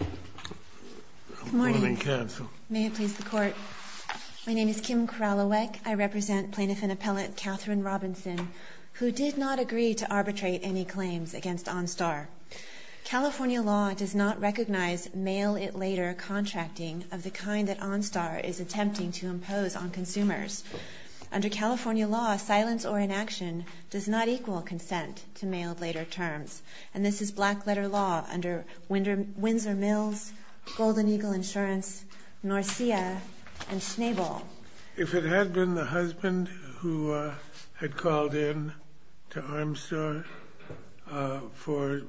Good morning. May it please the Court. My name is Kim Kralowek. I represent Plaintiff and Appellant Katherine Robinson, who did not agree to arbitrate any claims against OnStar. California law does not recognize mail-it-later contracting of the kind that OnStar is attempting to impose on consumers. Under California law, silence or inaction does not equal consent to mail-it-later terms. And this is black-letter law under Windsor Mills, Golden Eagle Insurance, Norcia, and Schnabel. If it had been the husband who had called in to OnStar for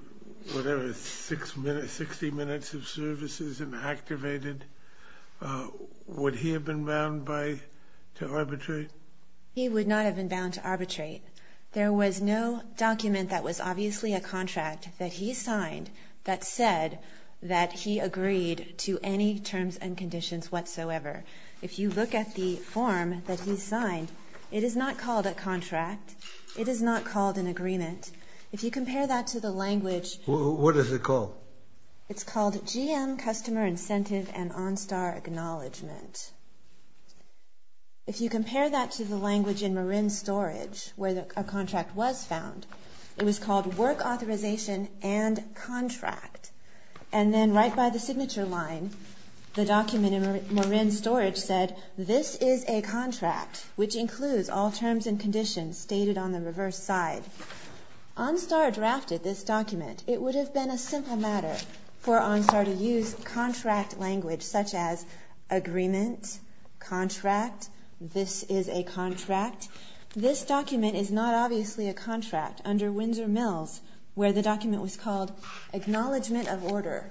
whatever, 60 minutes of services and activated, would he have been bound to arbitrate? He would not have been bound to arbitrate. There was no document that was obviously a contract that he signed that said that he agreed to any terms and conditions whatsoever. If you look at the form that he signed, it is not called a contract. It is not called an agreement. If you compare that to the language... What is it called? It's called GM Customer Incentive and OnStar Acknowledgement. If you compare that to the language in Marin Storage, where a contract was found, it was called Work Authorization and Contract. And then right by the signature line, the document in Marin Storage said, This is a contract, which includes all terms and conditions stated on the reverse side. OnStar drafted this document. It would have been a simple matter for OnStar to use contract language such as agreement, contract, this is a contract. This document is not obviously a contract. Under Windsor Mills, where the document was called Acknowledgement of Order,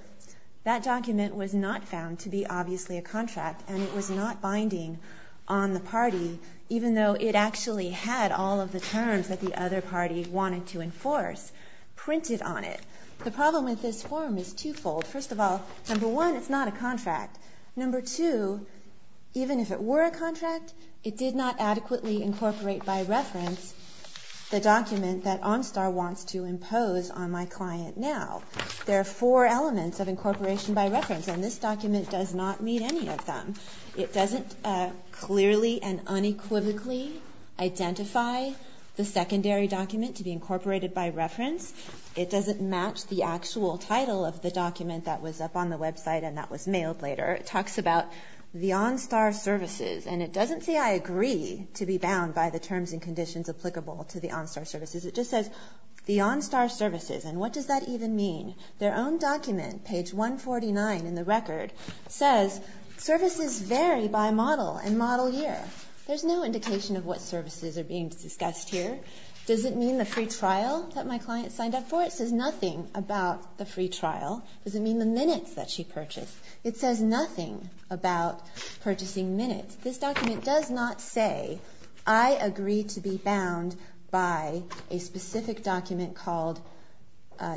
that document was not found to be obviously a contract. And it was not binding on the party, even though it actually had all of the terms that the other party wanted to enforce printed on it. The problem with this form is two-fold. First of all, number one, it's not a contract. Number two, even if it were a contract, it did not adequately incorporate by reference the document that OnStar wants to impose on my client now. There are four elements of incorporation by reference, and this document does not meet any of them. It doesn't clearly and unequivocally identify the secondary document to be incorporated by reference. It doesn't match the actual title of the document that was up on the website and that was mailed later. It talks about the OnStar services, and it doesn't say I agree to be bound by the terms and conditions applicable to the OnStar services. It just says the OnStar services, and what does that even mean? Their own document, page 149 in the record, says services vary by model and model year. There's no indication of what services are being discussed here. Does it mean the free trial that my client signed up for? It says nothing about the free trial. Does it mean the minutes that she purchased? It says nothing about purchasing minutes. This document does not say I agree to be bound by a specific document called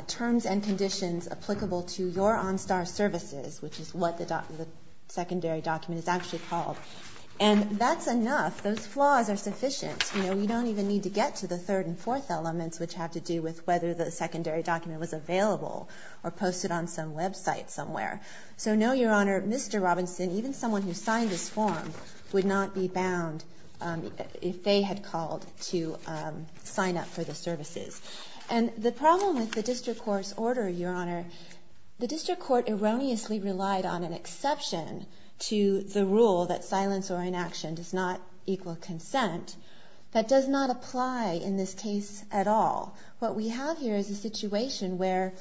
terms and conditions applicable to your OnStar services, which is what the secondary document is actually called, and that's enough. Those flaws are sufficient. You know, we don't even need to get to the third and fourth elements, which have to do with whether the secondary document was available or posted on some website somewhere. So no, Your Honor, Mr. Robinson, even someone who signed this form, would not be bound if they had called to sign up for the services. And the problem with the district court's order, Your Honor, the district court erroneously relied on an exception to the rule that silence or inaction does not equal consent. That does not apply in this case at all. What we have here is a situation where,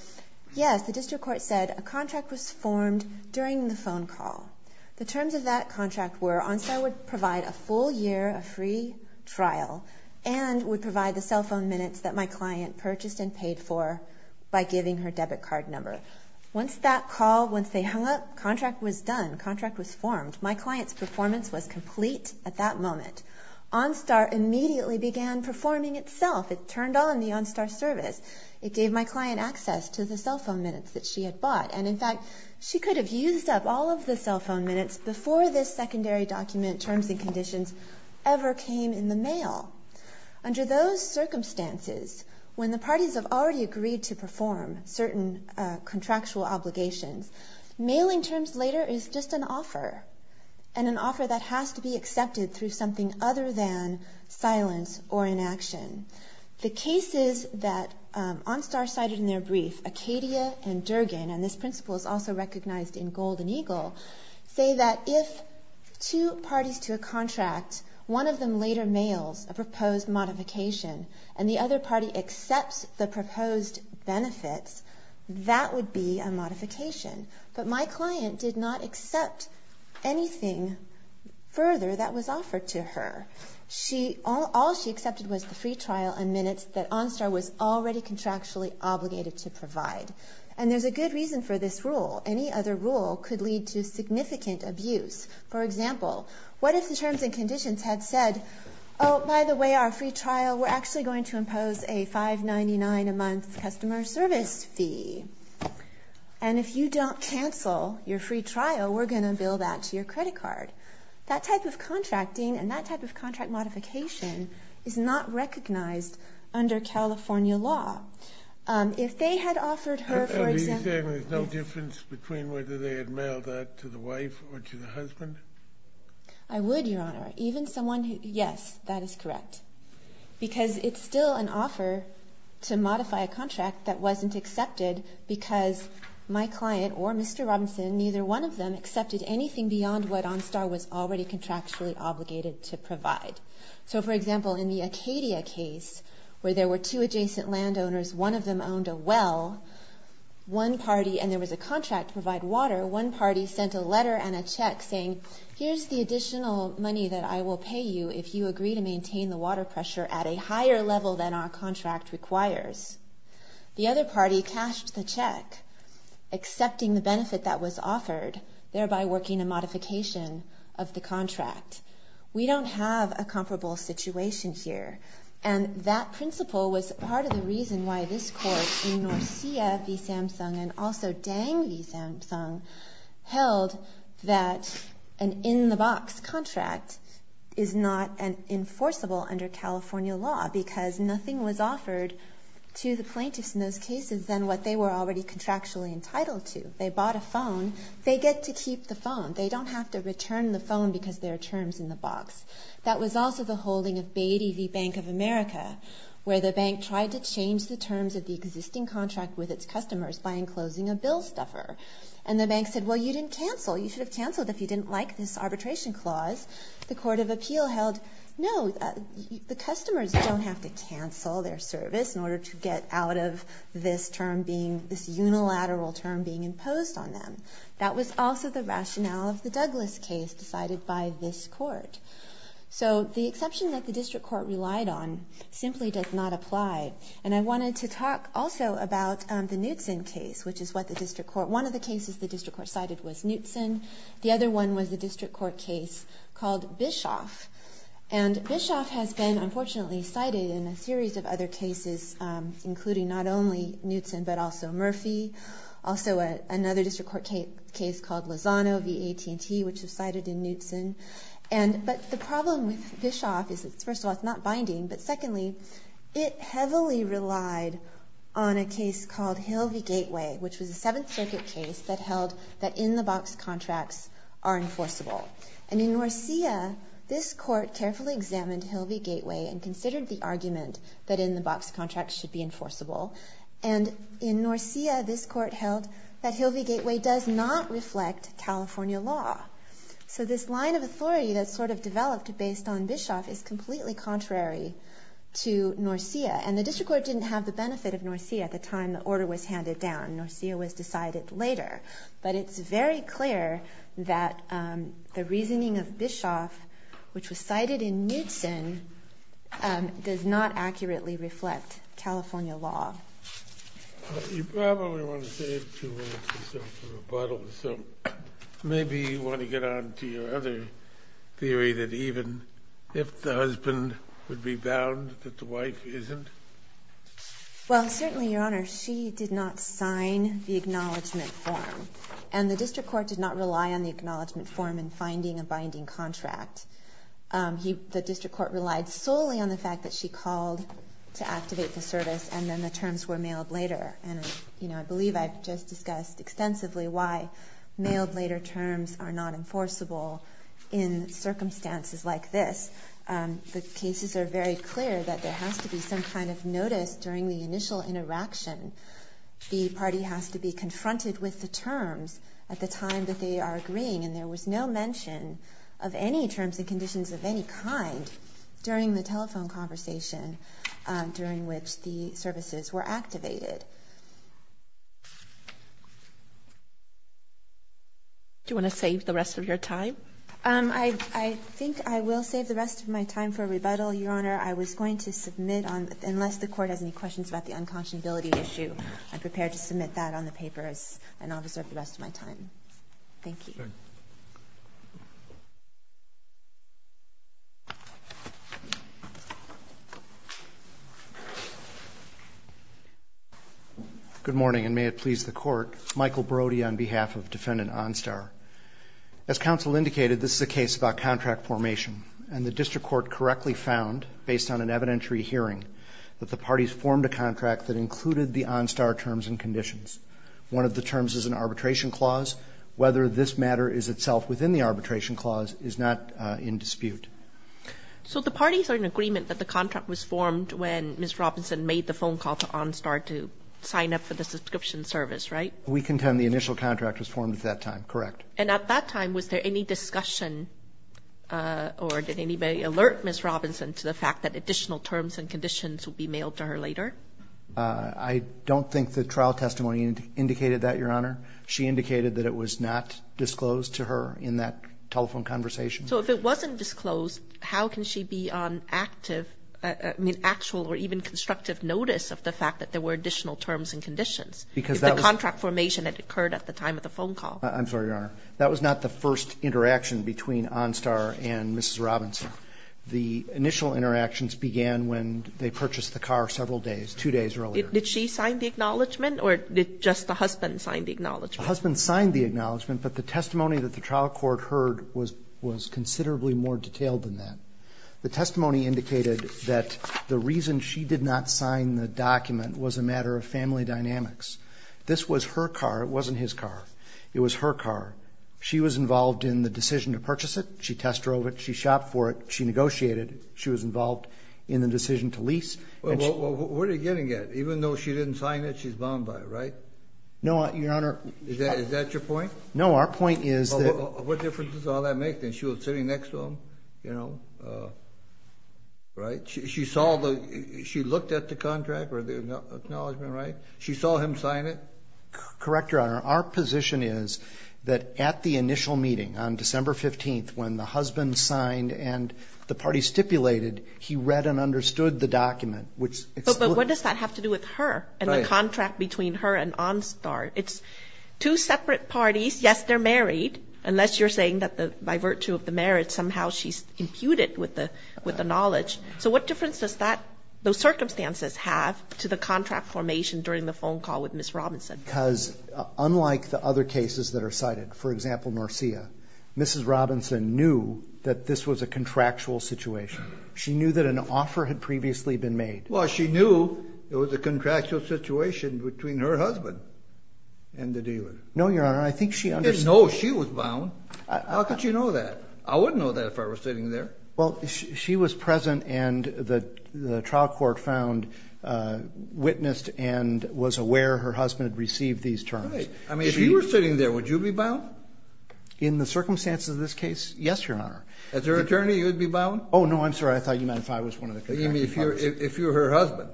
yes, the district court said a contract was formed during the phone call. The terms of that contract were OnStar would provide a full year of free trial and would provide the cell phone minutes that my client purchased and paid for by giving her debit card number. Once that call, once they hung up, contract was done, contract was formed. My client's performance was complete at that moment. OnStar immediately began performing itself. It turned on the OnStar service. It gave my client access to the cell phone minutes that she had bought. And, in fact, she could have used up all of the cell phone minutes before this secondary document terms and conditions ever came in the mail. Under those circumstances, when the parties have already agreed to perform certain contractual obligations, mailing terms later is just an offer, and an offer that has to be accepted through something other than silence or inaction. The cases that OnStar cited in their brief, Acadia and Durgin, and this principle is also recognized in Gold and Eagle, say that if two parties to a contract, one of them later mails a proposed modification and the other party accepts the proposed benefits, that would be a modification. But my client did not accept anything further that was offered to her. All she accepted was the free trial and minutes that OnStar was already contractually obligated to provide. And there's a good reason for this rule. Any other rule could lead to significant abuse. For example, what if the terms and conditions had said, oh, by the way, our free trial, we're actually going to impose a $5.99 a month customer service fee. And if you don't cancel your free trial, we're going to bill that to your credit card. That type of contracting and that type of contract modification is not recognized under California law. If they had offered her, for example... Are you saying there's no difference between whether they had mailed that to the wife or to the husband? I would, Your Honor. Even someone who, yes, that is correct. Because it's still an offer to modify a contract that wasn't accepted because my client or Mr. Robinson, neither one of them accepted anything beyond what OnStar was already contractually obligated to provide. So, for example, in the Acadia case, where there were two adjacent landowners, one of them owned a well, one party, and there was a contract to provide water, one party sent a letter and a check saying, here's the additional money that I will pay you if you agree to maintain the water pressure at a higher level than our contract requires. The other party cashed the check, accepting the benefit that was offered, thereby working a modification of the contract. We don't have a comparable situation here. And that principle was part of the reason why this court in Norcia v. Samsung and also Dang v. Samsung held that an in-the-box contract is not enforceable under California law because nothing was offered to the plaintiffs in those cases than what they were already contractually entitled to. They bought a phone. They get to keep the phone. They don't have to return the phone because there are terms in the box. Where the bank tried to change the terms of the existing contract with its customers by enclosing a bill stuffer. And the bank said, well, you didn't cancel. You should have canceled if you didn't like this arbitration clause. The court of appeal held, no, the customers don't have to cancel their service in order to get out of this term being, this unilateral term being imposed on them. That was also the rationale of the Douglas case decided by this court. So the exception that the district court relied on simply does not apply. And I wanted to talk also about the Knutson case, which is what the district court, one of the cases the district court cited was Knutson. The other one was the district court case called Bischoff. And Bischoff has been unfortunately cited in a series of other cases, including not only Knutson but also Murphy. Also another district court case called Lozano v. AT&T, which was cited in Knutson. But the problem with Bischoff is, first of all, it's not binding. But secondly, it heavily relied on a case called Hill v. Gateway, which was a Seventh Circuit case that held that in-the-box contracts are enforceable. And in Norcia, this court carefully examined Hill v. Gateway and considered the argument that in-the-box contracts should be enforceable. And in Norcia, this court held that Hill v. Gateway does not reflect California law. So this line of authority that sort of developed based on Bischoff is completely contrary to Norcia. And the district court didn't have the benefit of Norcia at the time the order was handed down. Norcia was decided later. But it's very clear that the reasoning of Bischoff, which was cited in Knutson, does not accurately reflect California law. You probably want to save two minutes or so for rebuttal. So maybe you want to get on to your other theory that even if the husband would be bound, that the wife isn't? Well, certainly, Your Honor, she did not sign the acknowledgment form. And the district court did not rely on the acknowledgment form in finding a binding contract. The district court relied solely on the fact that she called to activate the service and then the terms were mailed later. And I believe I've just discussed extensively why mailed later terms are not enforceable in circumstances like this. The cases are very clear that there has to be some kind of notice during the initial interaction. The party has to be confronted with the terms at the time that they are agreeing. And there was no mention of any terms and conditions of any kind during the telephone conversation during which the services were activated. Do you want to save the rest of your time? I think I will save the rest of my time for rebuttal, Your Honor. I was going to submit on unless the court has any questions about the unconscionability issue, I'm prepared to submit that on the papers and I'll reserve the rest of my time. Thank you. Thank you. Good morning, and may it please the Court. Michael Brody on behalf of Defendant Onstar. As counsel indicated, this is a case about contract formation. And the district court correctly found, based on an evidentiary hearing, that the parties formed a contract that included the Onstar terms and conditions. One of the terms is an arbitration clause. Whether this matter is itself within the arbitration clause is not in dispute. So the parties are in agreement that the contract was formed when Ms. Robinson made the phone call to Onstar to sign up for the subscription service, right? We contend the initial contract was formed at that time, correct. And at that time, was there any discussion or did anybody alert Ms. Robinson to the fact that additional terms and conditions would be mailed to her later? I don't think the trial testimony indicated that, Your Honor. She indicated that it was not disclosed to her in that telephone conversation. So if it wasn't disclosed, how can she be on active, I mean, actual or even constructive notice of the fact that there were additional terms and conditions if the contract formation had occurred at the time of the phone call? I'm sorry, Your Honor. That was not the first interaction between Onstar and Ms. Robinson. The initial interactions began when they purchased the car several days, two days earlier. Did she sign the acknowledgment or did just the husband sign the acknowledgment? The husband signed the acknowledgment, but the testimony that the trial court heard was considerably more detailed than that. The testimony indicated that the reason she did not sign the document was a matter of family dynamics. This was her car. It wasn't his car. It was her car. She was involved in the decision to purchase it. She test drove it. She shopped for it. She negotiated. She was involved in the decision to lease. Well, where are you getting at? Even though she didn't sign it, she's bound by it, right? No, Your Honor. Is that your point? No, our point is that. What difference does all that make? She was sitting next to him, you know, right? She looked at the contract or the acknowledgment, right? She saw him sign it? Correct, Your Honor. Our position is that at the initial meeting on December 15th when the husband signed and the party stipulated, he read and understood the document. But what does that have to do with her and the contract between her and Onstar? It's two separate parties. Yes, they're married, unless you're saying that by virtue of the marriage, somehow she's imputed with the knowledge. So what difference does that, those circumstances have to the contract formation during the phone call with Ms. Robinson? Because unlike the other cases that are cited, for example, Norcia, Mrs. Robinson knew that this was a contractual situation. She knew that an offer had previously been made. Well, she knew it was a contractual situation between her husband and the dealer. No, Your Honor, I think she understood. No, she was bound. How could you know that? I wouldn't know that if I were sitting there. Well, she was present and the trial court found, witnessed and was aware her husband had received these terms. Right. I mean, if he were sitting there, would you be bound? In the circumstances of this case, yes, Your Honor. As her attorney, you would be bound? Oh, no, I'm sorry. I thought you meant if I was one of the contractual parties. You mean if you were her husband,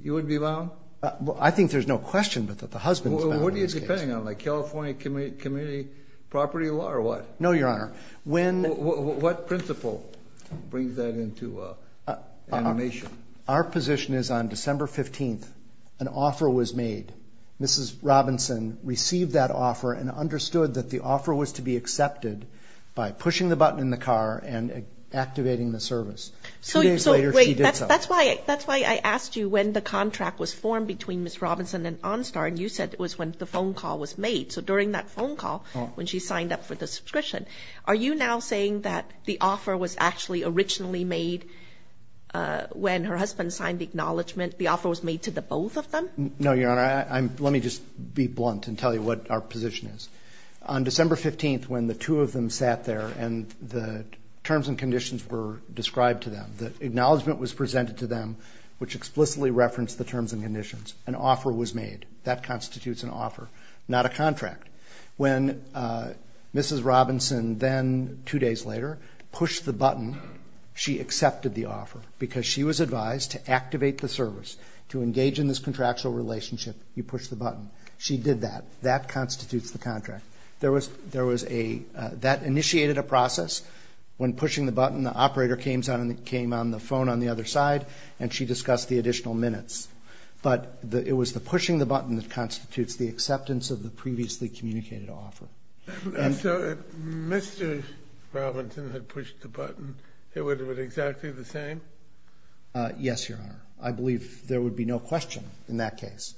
you would be bound? Well, I think there's no question but that the husband is bound in this case. Well, what are you depending on? Like California community property law or what? No, Your Honor. What principle brings that into animation? Our position is on December 15th, an offer was made. Mrs. Robinson received that offer and understood that the offer was to be accepted by pushing the button in the car and activating the service. Two days later, she did so. That's why I asked you when the contract was formed between Ms. Robinson and OnStar, and you said it was when the phone call was made. So during that phone call, when she signed up for the subscription, are you now saying that the offer was actually originally made when her husband signed the acknowledgment, the offer was made to the both of them? No, Your Honor. Let me just be blunt and tell you what our position is. On December 15th, when the two of them sat there and the terms and conditions were described to them, the acknowledgment was presented to them, which explicitly referenced the terms and conditions. An offer was made. That constitutes an offer, not a contract. When Mrs. Robinson then, two days later, pushed the button, she accepted the offer because she was advised to activate the service, to engage in this contractual relationship, you push the button. She did that. That constitutes the contract. That initiated a process. When pushing the button, the operator came on the phone on the other side, and she discussed the additional minutes. But it was the pushing the button that constitutes the acceptance of the previously communicated offer. So if Mr. Robinson had pushed the button, it would have been exactly the same? Yes, Your Honor. I believe there would be no question in that case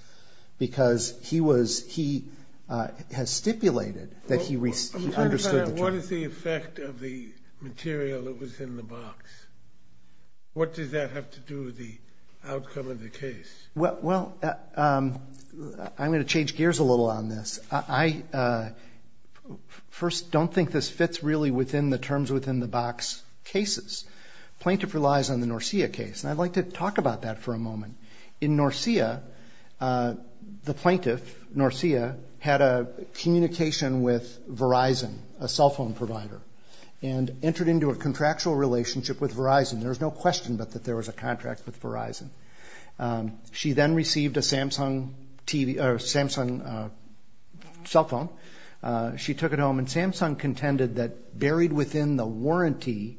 because he was he has stipulated that he understood the terms. I'm concerned about what is the effect of the material that was in the box. What does that have to do with the outcome of the case? Well, I'm going to change gears a little on this. I first don't think this fits really within the terms within the box cases. Plaintiff relies on the Norcia case. And I'd like to talk about that for a moment. In Norcia, the plaintiff, Norcia, had a communication with Verizon, a cell phone provider, and entered into a contractual relationship with Verizon. There's no question but that there was a contract with Verizon. She then received a Samsung cell phone. She took it home, and Samsung contended that buried within the warranty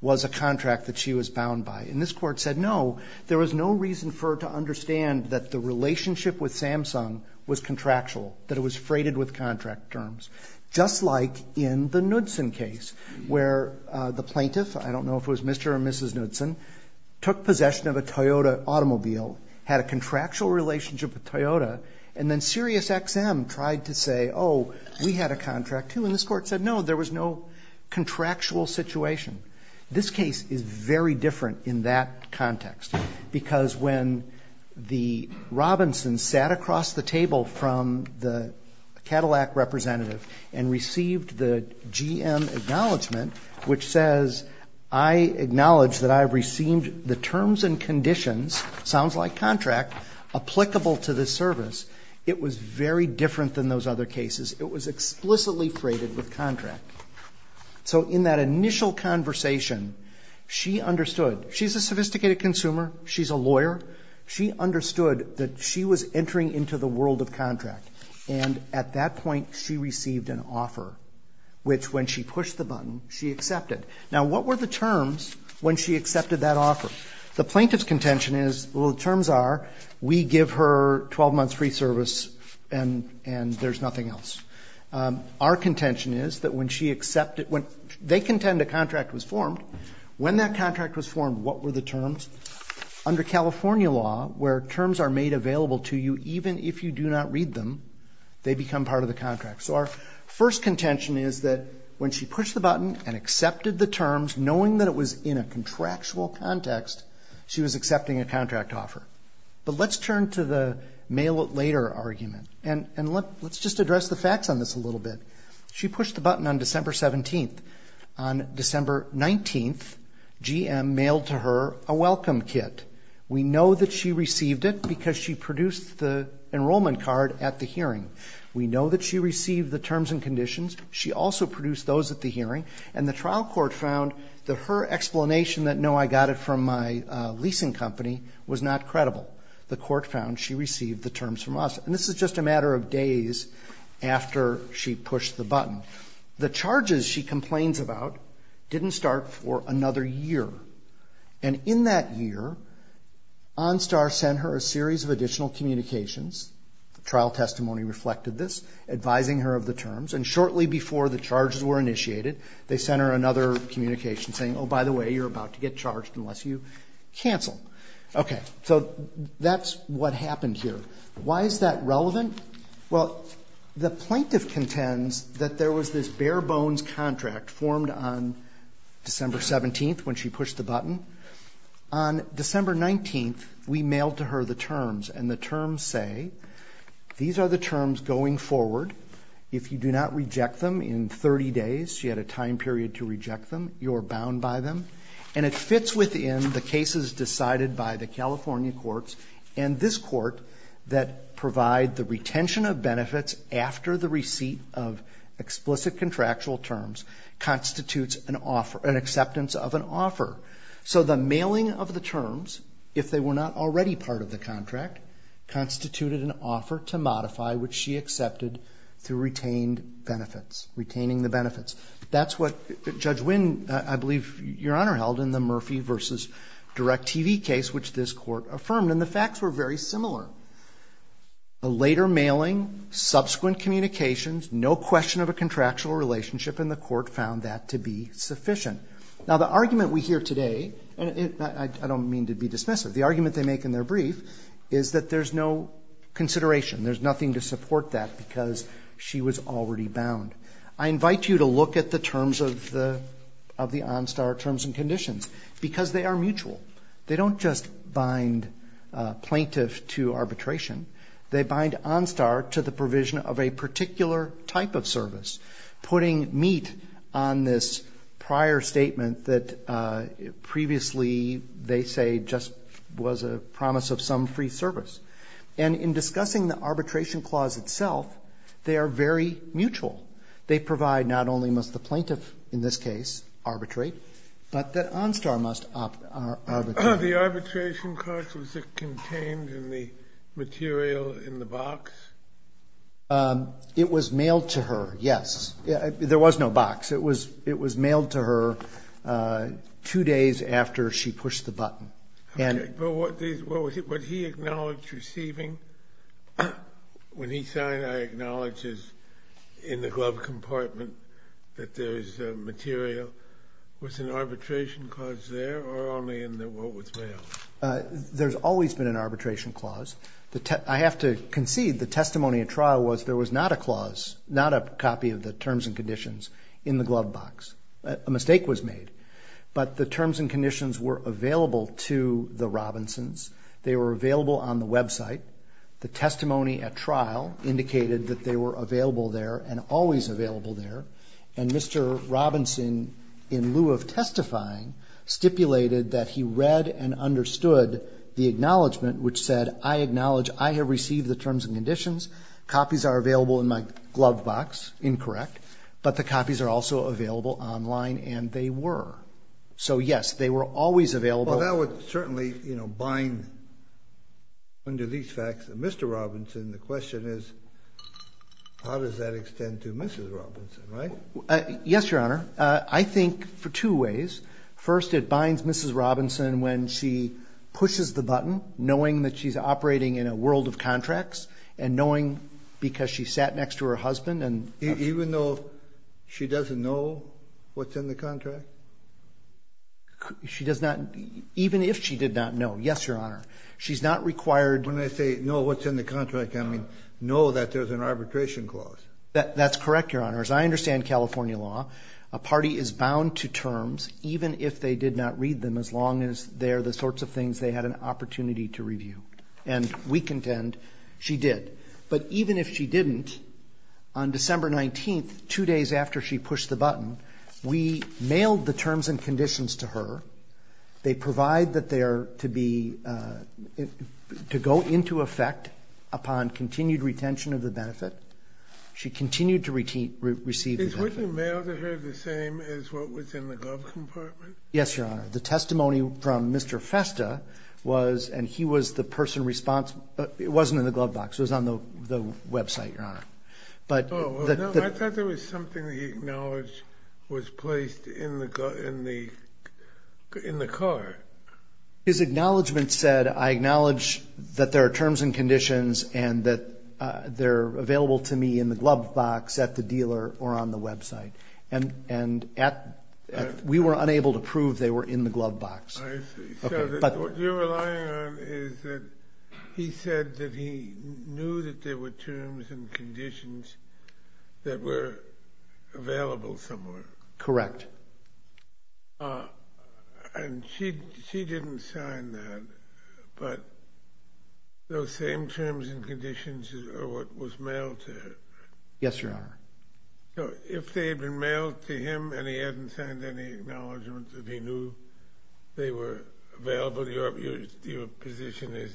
was a contract that she was And this Court said, no, there was no reason for her to understand that the relationship with Samsung was contractual, that it was freighted with contract terms, just like in the Knudsen case where the plaintiff, I don't know if it was Mr. or Mrs. Knudsen, took possession of a Toyota automobile, had a contractual relationship with Toyota, and then Sirius XM tried to say, oh, we had a contract, too. And this Court said, no, there was no contractual situation. This case is very different in that context. Because when the Robinsons sat across the table from the Cadillac representative and received the GM acknowledgment, which says, I acknowledge that I have received the terms and conditions, sounds like contract, applicable to this service, it was very different than those other cases. It was explicitly freighted with contract. So in that initial conversation, she understood. She's a sophisticated consumer. She's a lawyer. She understood that she was entering into the world of contract. And at that point, she received an offer, which when she pushed the button, she accepted. Now, what were the terms when she accepted that offer? The plaintiff's contention is, well, the terms are, we give her 12 months free service and there's nothing else. Our contention is that when she accepted, they contend a contract was formed. When that contract was formed, what were the terms? Under California law, where terms are made available to you even if you do not read them, they become part of the contract. So our first contention is that when she pushed the button and accepted the terms, knowing that it was in a contractual context, she was accepting a contract offer. But let's turn to the mail-it-later argument. And let's just address the facts on this a little bit. She pushed the button on December 17th. On December 19th, GM mailed to her a welcome kit. We know that she received it because she produced the enrollment card at the hearing. We know that she received the terms and conditions. She also produced those at the hearing. And the trial court found that her explanation that, no, I got it from my leasing company, was not credible. The court found she received the terms from us. And this is just a matter of days after she pushed the button. The charges she complains about didn't start for another year. And in that year, OnStar sent her a series of additional communications. The trial testimony reflected this, advising her of the terms. And shortly before the charges were initiated, they sent her another communication saying, oh, by the way, you're about to get charged unless you cancel. Okay. So that's what happened here. Why is that relevant? Well, the plaintiff contends that there was this bare-bones contract formed on December 17th when she pushed the button. On December 19th, we mailed to her the terms. And the terms say, these are the terms going forward. If you do not reject them in 30 days, she had a time period to reject them, you're bound by them. And it fits within the cases decided by the California courts. And this Court that provide the retention of benefits after the receipt of explicit contractual terms constitutes an offer, an acceptance of an offer. So the mailing of the terms, if they were not already part of the contract, constituted an offer to modify, which she accepted through retained benefits, retaining the benefits. That's what Judge Wynn, I believe, Your Honor, held in the Murphy v. Direct-TV case, which this Court affirmed, and the facts were very similar. A later mailing, subsequent communications, no question of a contractual relationship, and the Court found that to be sufficient. Now, the argument we hear today, and I don't mean to be dismissive, the argument they make in their brief is that there's no consideration, there's nothing to support that because she was already bound. I invite you to look at the terms of the OnStar terms and conditions because they are mutual. They don't just bind plaintiff to arbitration. They bind OnStar to the provision of a particular type of service, putting meat on this prior statement that previously, they say, just was a promise of some free service. And in discussing the arbitration clause itself, they are very mutual. They provide not only must the plaintiff, in this case, arbitrate, but that OnStar must arbitrate. The arbitration clause, was it contained in the material in the box? It was mailed to her, yes. There was no box. It was mailed to her two days after she pushed the button. Okay. But what he acknowledged receiving, when he signed, I acknowledge, is in the glove compartment that there is material. Was an arbitration clause there or only in the one with mail? There's always been an arbitration clause. I have to concede the testimony at trial was there was not a clause, not a copy of the terms and conditions in the glove box. A mistake was made. But the terms and conditions were available to the Robinsons. They were available on the website. The testimony at trial indicated that they were available there and always available there. And Mr. Robinson, in lieu of testifying, stipulated that he read and understood the acknowledgment which said, I acknowledge I have received the terms and conditions. Copies are available in my glove box. Incorrect. But the copies are also available online, and they were. So, yes, they were always available. Well, that would certainly bind, under these facts, Mr. Robinson. The question is, how does that extend to Mrs. Robinson, right? Yes, Your Honor. I think for two ways. First, it binds Mrs. Robinson when she pushes the button, knowing that she's operating in a world of contracts, and knowing because she sat next to her husband. Even though she doesn't know what's in the contract? She does not, even if she did not know. Yes, Your Honor. She's not required. When I say know what's in the contract, I mean know that there's an arbitration clause. That's correct, Your Honor. As I understand California law, a party is bound to terms, even if they did not read them, as long as they're the sorts of things they had an opportunity to review. And we contend she did. But even if she didn't, on December 19th, two days after she pushed the button, we mailed the terms and conditions to her. They provide that they are to be to go into effect upon continued retention of the benefit. She continued to receive the benefit. Is what you mailed to her the same as what was in the glove compartment? Yes, Your Honor. The testimony from Mr. Festa was, and he was the person responsible. It wasn't in the glove box. It was on the website, Your Honor. I thought there was something he acknowledged was placed in the car. His acknowledgement said, I acknowledge that there are terms and conditions and that they're available to me in the glove box at the dealer or on the website. And we were unable to prove they were in the glove box. I see. So what you're relying on is that he said that he knew that there were terms and conditions that were available somewhere. Correct. And she didn't sign that. But those same terms and conditions are what was mailed to her. Yes, Your Honor. So if they had been mailed to him and he hadn't signed any acknowledgement that he knew they were available, your position is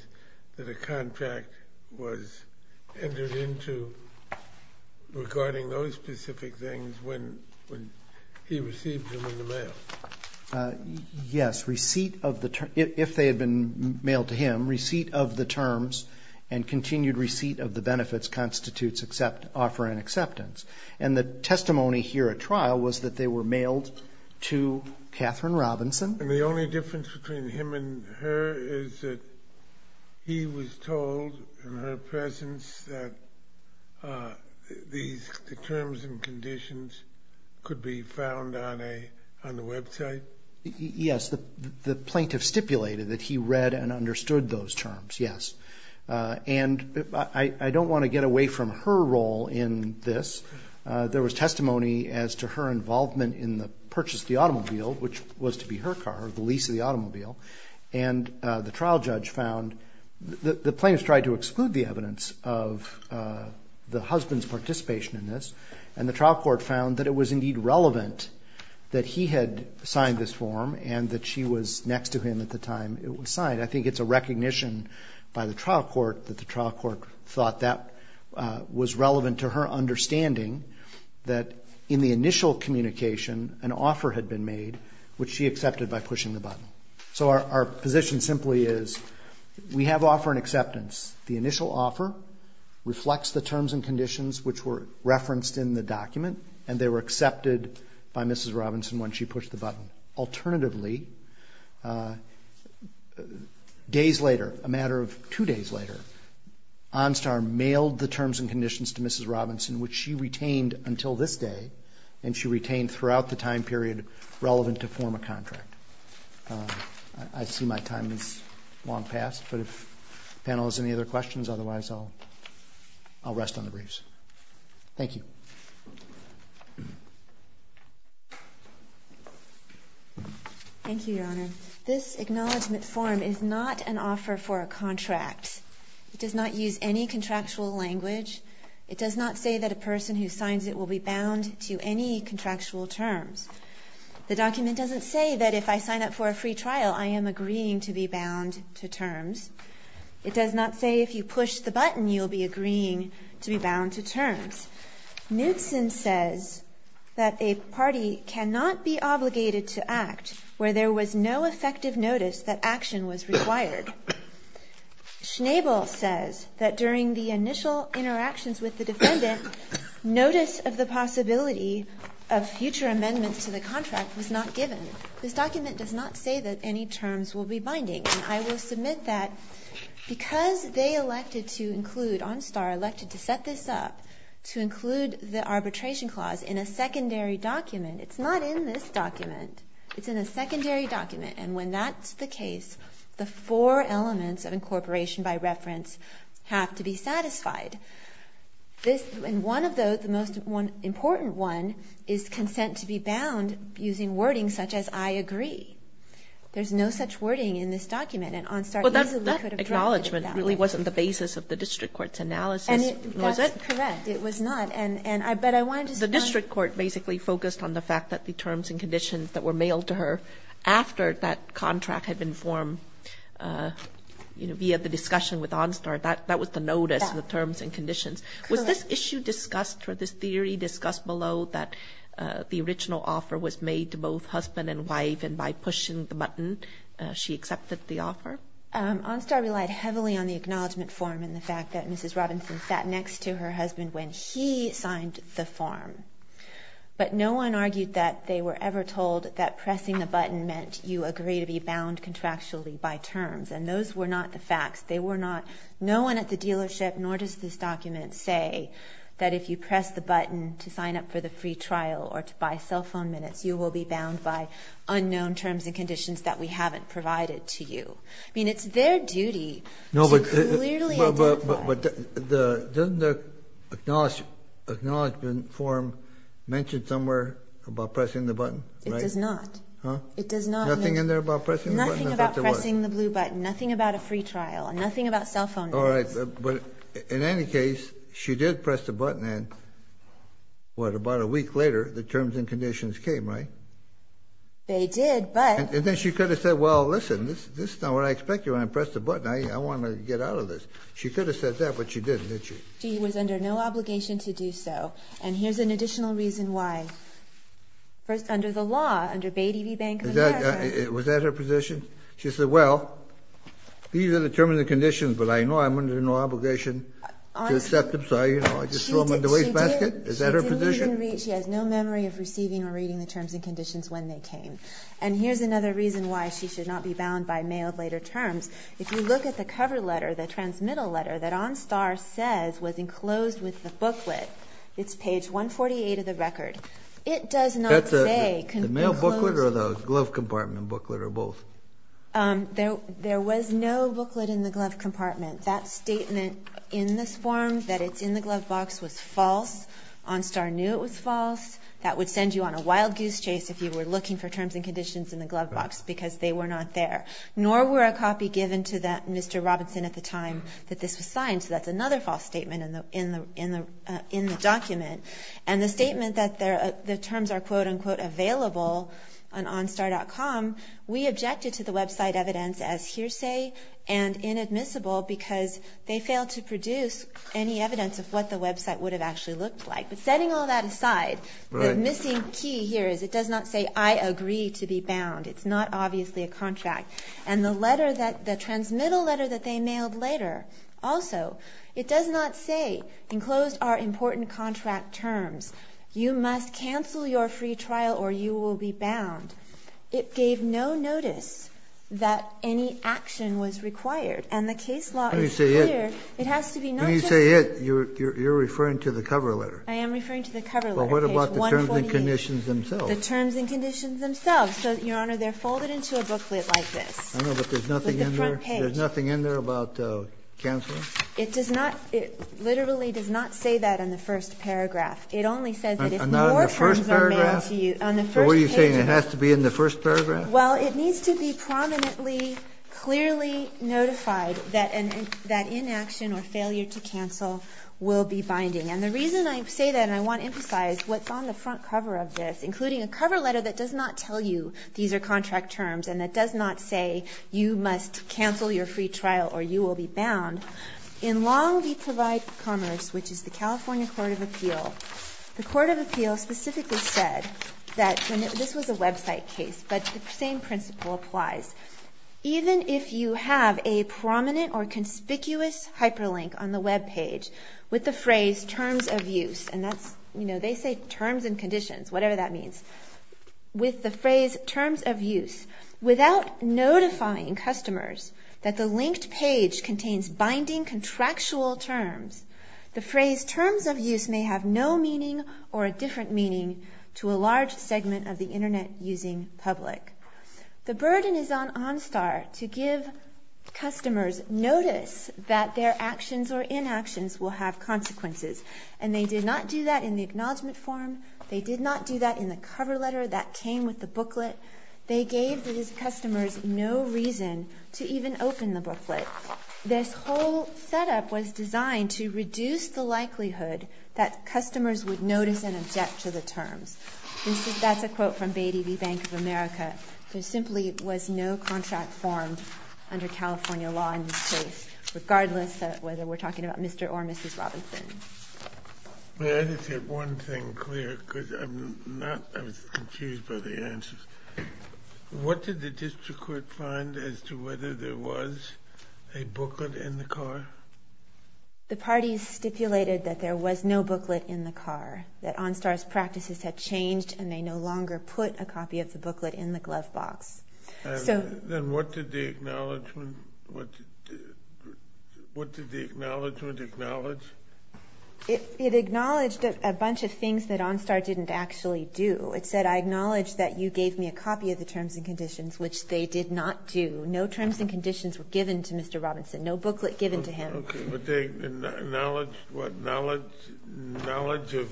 that a contract was entered into regarding those specific things when he received them in the mail? Yes. Receipt of the terms, if they had been mailed to him, receipt of the terms and continued receipt of the benefits constitutes offer and acceptance. And the testimony here at trial was that they were mailed to Katherine Robinson. And the only difference between him and her is that he was told in her presence that the terms and conditions could be found on the website? Yes. The plaintiff stipulated that he read and understood those terms, yes. And I don't want to get away from her role in this. There was testimony as to her involvement in the purchase of the automobile, which was to be her car, the lease of the automobile, and the trial judge found that the plaintiff tried to exclude the evidence of the husband's participation in this, and the trial court found that it was indeed relevant that he had signed this form and that she was next to him at the time it was signed. I think it's a recognition by the trial court that the trial court thought that was relevant to her which she accepted by pushing the button. So our position simply is we have offer and acceptance. The initial offer reflects the terms and conditions which were referenced in the document, and they were accepted by Mrs. Robinson when she pushed the button. Alternatively, days later, a matter of two days later, Onstar mailed the terms and conditions to Mrs. Robinson, which she retained until this day, and she retained throughout the time period relevant to form a contract. I see my time has long passed, but if the panel has any other questions, otherwise I'll rest on the briefs. Thank you. Thank you, Your Honor. This acknowledgment form is not an offer for a contract. It does not use any contractual language. It does not say that a person who signs it will be bound to any contractual terms. The document doesn't say that if I sign up for a free trial, I am agreeing to be bound to terms. It does not say if you push the button, you'll be agreeing to be bound to terms. Knutson says that a party cannot be obligated to act where there was no effective notice that action was required. Schnabel says that during the initial interactions with the defendant, notice of the possibility of future amendments to the contract was not given. This document does not say that any terms will be binding. And I will submit that because they elected to include, Onstar elected to set this up, to include the arbitration clause in a secondary document, it's not in this document. It's in a secondary document. And when that's the case, the four elements of incorporation by reference have to be satisfied. This, and one of those, the most important one, is consent to be bound using wording such as I agree. There's no such wording in this document. And Onstar easily could have dropped it to that one. Kagan. That acknowledgment really wasn't the basis of the district court's analysis was it? That's correct. It was not, and I bet I wanted to. The district court basically focused on the fact that the terms and conditions that were mailed to her after that contract had been formed, you know, via the discussion with Onstar. That was the notice, the terms and conditions. Correct. Was this issue discussed for this theory discussed below that the original offer was made to both husband and wife and by pushing the button she accepted the offer? Onstar relied heavily on the acknowledgment form and the fact that Mrs. Robinson sat next to her husband when he signed the form. But no one argued that they were ever told that pressing a button meant you agree to be bound contractually by terms. And those were not the facts. They were not. No one at the dealership, nor does this document say, that if you press the button to sign up for the free trial or to buy cell phone minutes, you will be bound by unknown terms and conditions that we haven't provided to you. I mean, it's their duty to clearly identify. But doesn't the acknowledgment form mention somewhere about pressing the button? It does not. Huh? It does not. Nothing in there about pressing the button? Nothing about pressing the blue button. Nothing about a free trial. Nothing about cell phone minutes. All right. But in any case, she did press the button and what, about a week later, the terms and conditions came, right? They did, but. And then she could have said, well, listen, this is not what I expected when I pressed the button. I want to get out of this. She could have said that, but she didn't, did she? She was under no obligation to do so. And here's an additional reason why. First, under the law, under Bay TV Bank of America. Was that her position? She said, well, these are the terms and conditions, but I know I'm under no obligation to accept them. So, you know, I just throw them in the wastebasket? Is that her position? She didn't even read. She has no memory of receiving or reading the terms and conditions when they came. And here's another reason why she should not be bound by mail of later terms. If you look at the cover letter, the transmittal letter that OnStar says was enclosed with the booklet, it's page 148 of the record. It does not say. The mail booklet or the glove compartment booklet or both? There was no booklet in the glove compartment. That statement in this form, that it's in the glove box, was false. OnStar knew it was false. That would send you on a wild goose chase if you were looking for terms and conditions in the glove box because they were not there. Nor were a copy given to Mr. Robinson at the time that this was signed. So that's another false statement in the document. And the statement that the terms are, quote, unquote, available on OnStar.com, we objected to the website evidence as hearsay and inadmissible because they failed to produce any evidence of what the website would have actually looked like. But setting all that aside, the missing key here is it does not say I agree to be bound. It's not obviously a contract. And the letter that, the transmittal letter that they mailed later also, it does not say enclosed are important contract terms. You must cancel your free trial or you will be bound. It gave no notice that any action was required. And the case law is clear. It has to be not just. When you say it, you're referring to the cover letter. I am referring to the cover letter. But what about the terms and conditions themselves? The terms and conditions themselves. So, Your Honor, they're folded into a booklet like this. I know, but there's nothing in there? With the front page. There's nothing in there about canceling? It does not, it literally does not say that in the first paragraph. It only says that if more terms are mailed to you. Not in the first paragraph? On the first page. So what are you saying? It has to be in the first paragraph? Well, it needs to be prominently, clearly notified that inaction or failure to cancel will be binding. And the reason I say that, and I want to emphasize what's on the front cover of this, including a cover letter that does not tell you these are contract terms and that does not say you must cancel your free trial or you will be bound. In Long Beach Provide Commerce, which is the California Court of Appeal, the Court of Appeal specifically said that this was a website case, but the same principle applies. Even if you have a prominent or conspicuous hyperlink on the web page with the phrase terms of use, and that's, you know, they say terms and conditions, whatever that means, with the phrase terms of use, without notifying customers that the linked page contains binding contractual terms, the phrase terms of use may have no meaning or a different meaning to a large segment of the Internet using public. The burden is on OnStar to give customers notice that their actions or inactions will have consequences. And they did not do that in the acknowledgement form. They did not do that in the cover letter that came with the booklet. They gave these customers no reason to even open the booklet. This whole setup was designed to reduce the likelihood that customers would notice and object to the terms. That's a quote from Bay TV Bank of America. There simply was no contract formed under California law in this case, regardless of whether we're talking about Mr. or Mrs. Robinson. But I just have one thing clear, because I'm not as confused by the answers. What did the district court find as to whether there was a booklet in the car? The parties stipulated that there was no booklet in the car, that OnStar's practices had changed and they no longer put a copy of the booklet in the glove box. Then what did the acknowledgement acknowledge? It acknowledged a bunch of things that OnStar didn't actually do. It said, I acknowledge that you gave me a copy of the terms and conditions, which they did not do. No terms and conditions were given to Mr. Robinson. No booklet given to him. Okay, but they acknowledged what? Knowledge of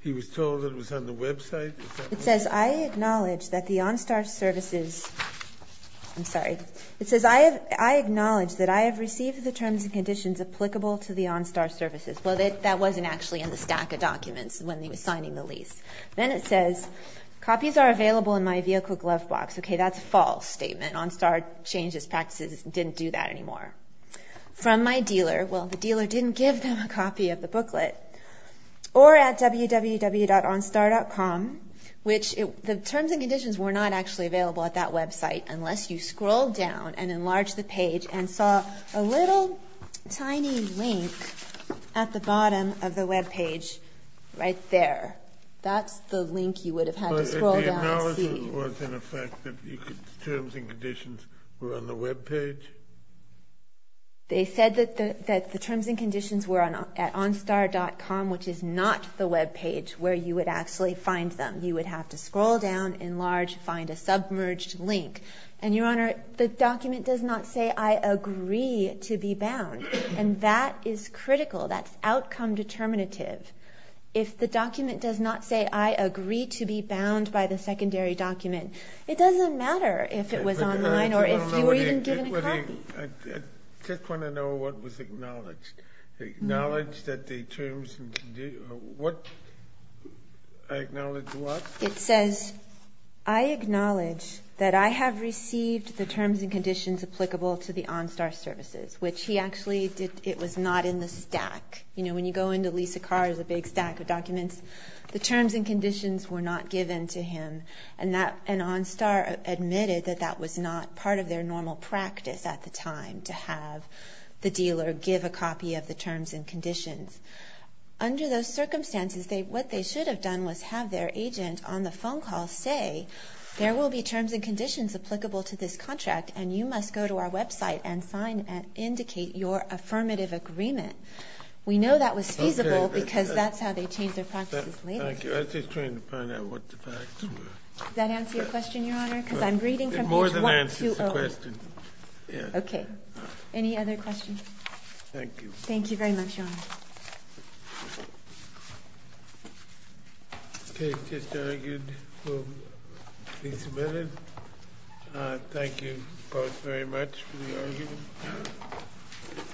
he was told it was on the website? It says, I acknowledge that the OnStar services, I'm sorry. It says, I acknowledge that I have received the terms and conditions applicable to the OnStar services. Well, that wasn't actually in the stack of documents when he was signing the lease. Then it says, copies are available in my vehicle glove box. Okay, that's a false statement. OnStar changed its practices and didn't do that anymore. From my dealer. Well, the dealer didn't give them a copy of the booklet. Or at www.onstar.com, which the terms and conditions were not actually available at that website unless you scrolled down and enlarged the page and saw a little tiny link at the bottom of the webpage right there. That's the link you would have had to scroll down and see. So it was in effect that the terms and conditions were on the webpage? They said that the terms and conditions were at OnStar.com, which is not the webpage where you would actually find them. You would have to scroll down, enlarge, find a submerged link. And, Your Honor, the document does not say, I agree to be bound. And that is critical. That's outcome determinative. If the document does not say, I agree to be bound by the secondary document, it doesn't matter if it was online or if you were even given a copy. I just want to know what was acknowledged. Acknowledged that the terms and conditions, what, I acknowledge what? It says, I acknowledge that I have received the terms and conditions applicable to the OnStar services, which he actually did, it was not in the stack. You know, when you go into Lisa Carr's big stack of documents, the terms and conditions were not given to him. And OnStar admitted that that was not part of their normal practice at the time, to have the dealer give a copy of the terms and conditions. Under those circumstances, what they should have done was have their agent on the phone call say, there will be terms and conditions applicable to this contract, and you must go to our website and sign and indicate your affirmative agreement. We know that was feasible because that's how they changed their practices later. Thank you. I was just trying to find out what the facts were. Does that answer your question, Your Honor? Because I'm reading from page 120. It more than answers the question. Okay. Any other questions? Thank you. Thank you very much, Your Honor. Okay. Thank you both very much for the argument.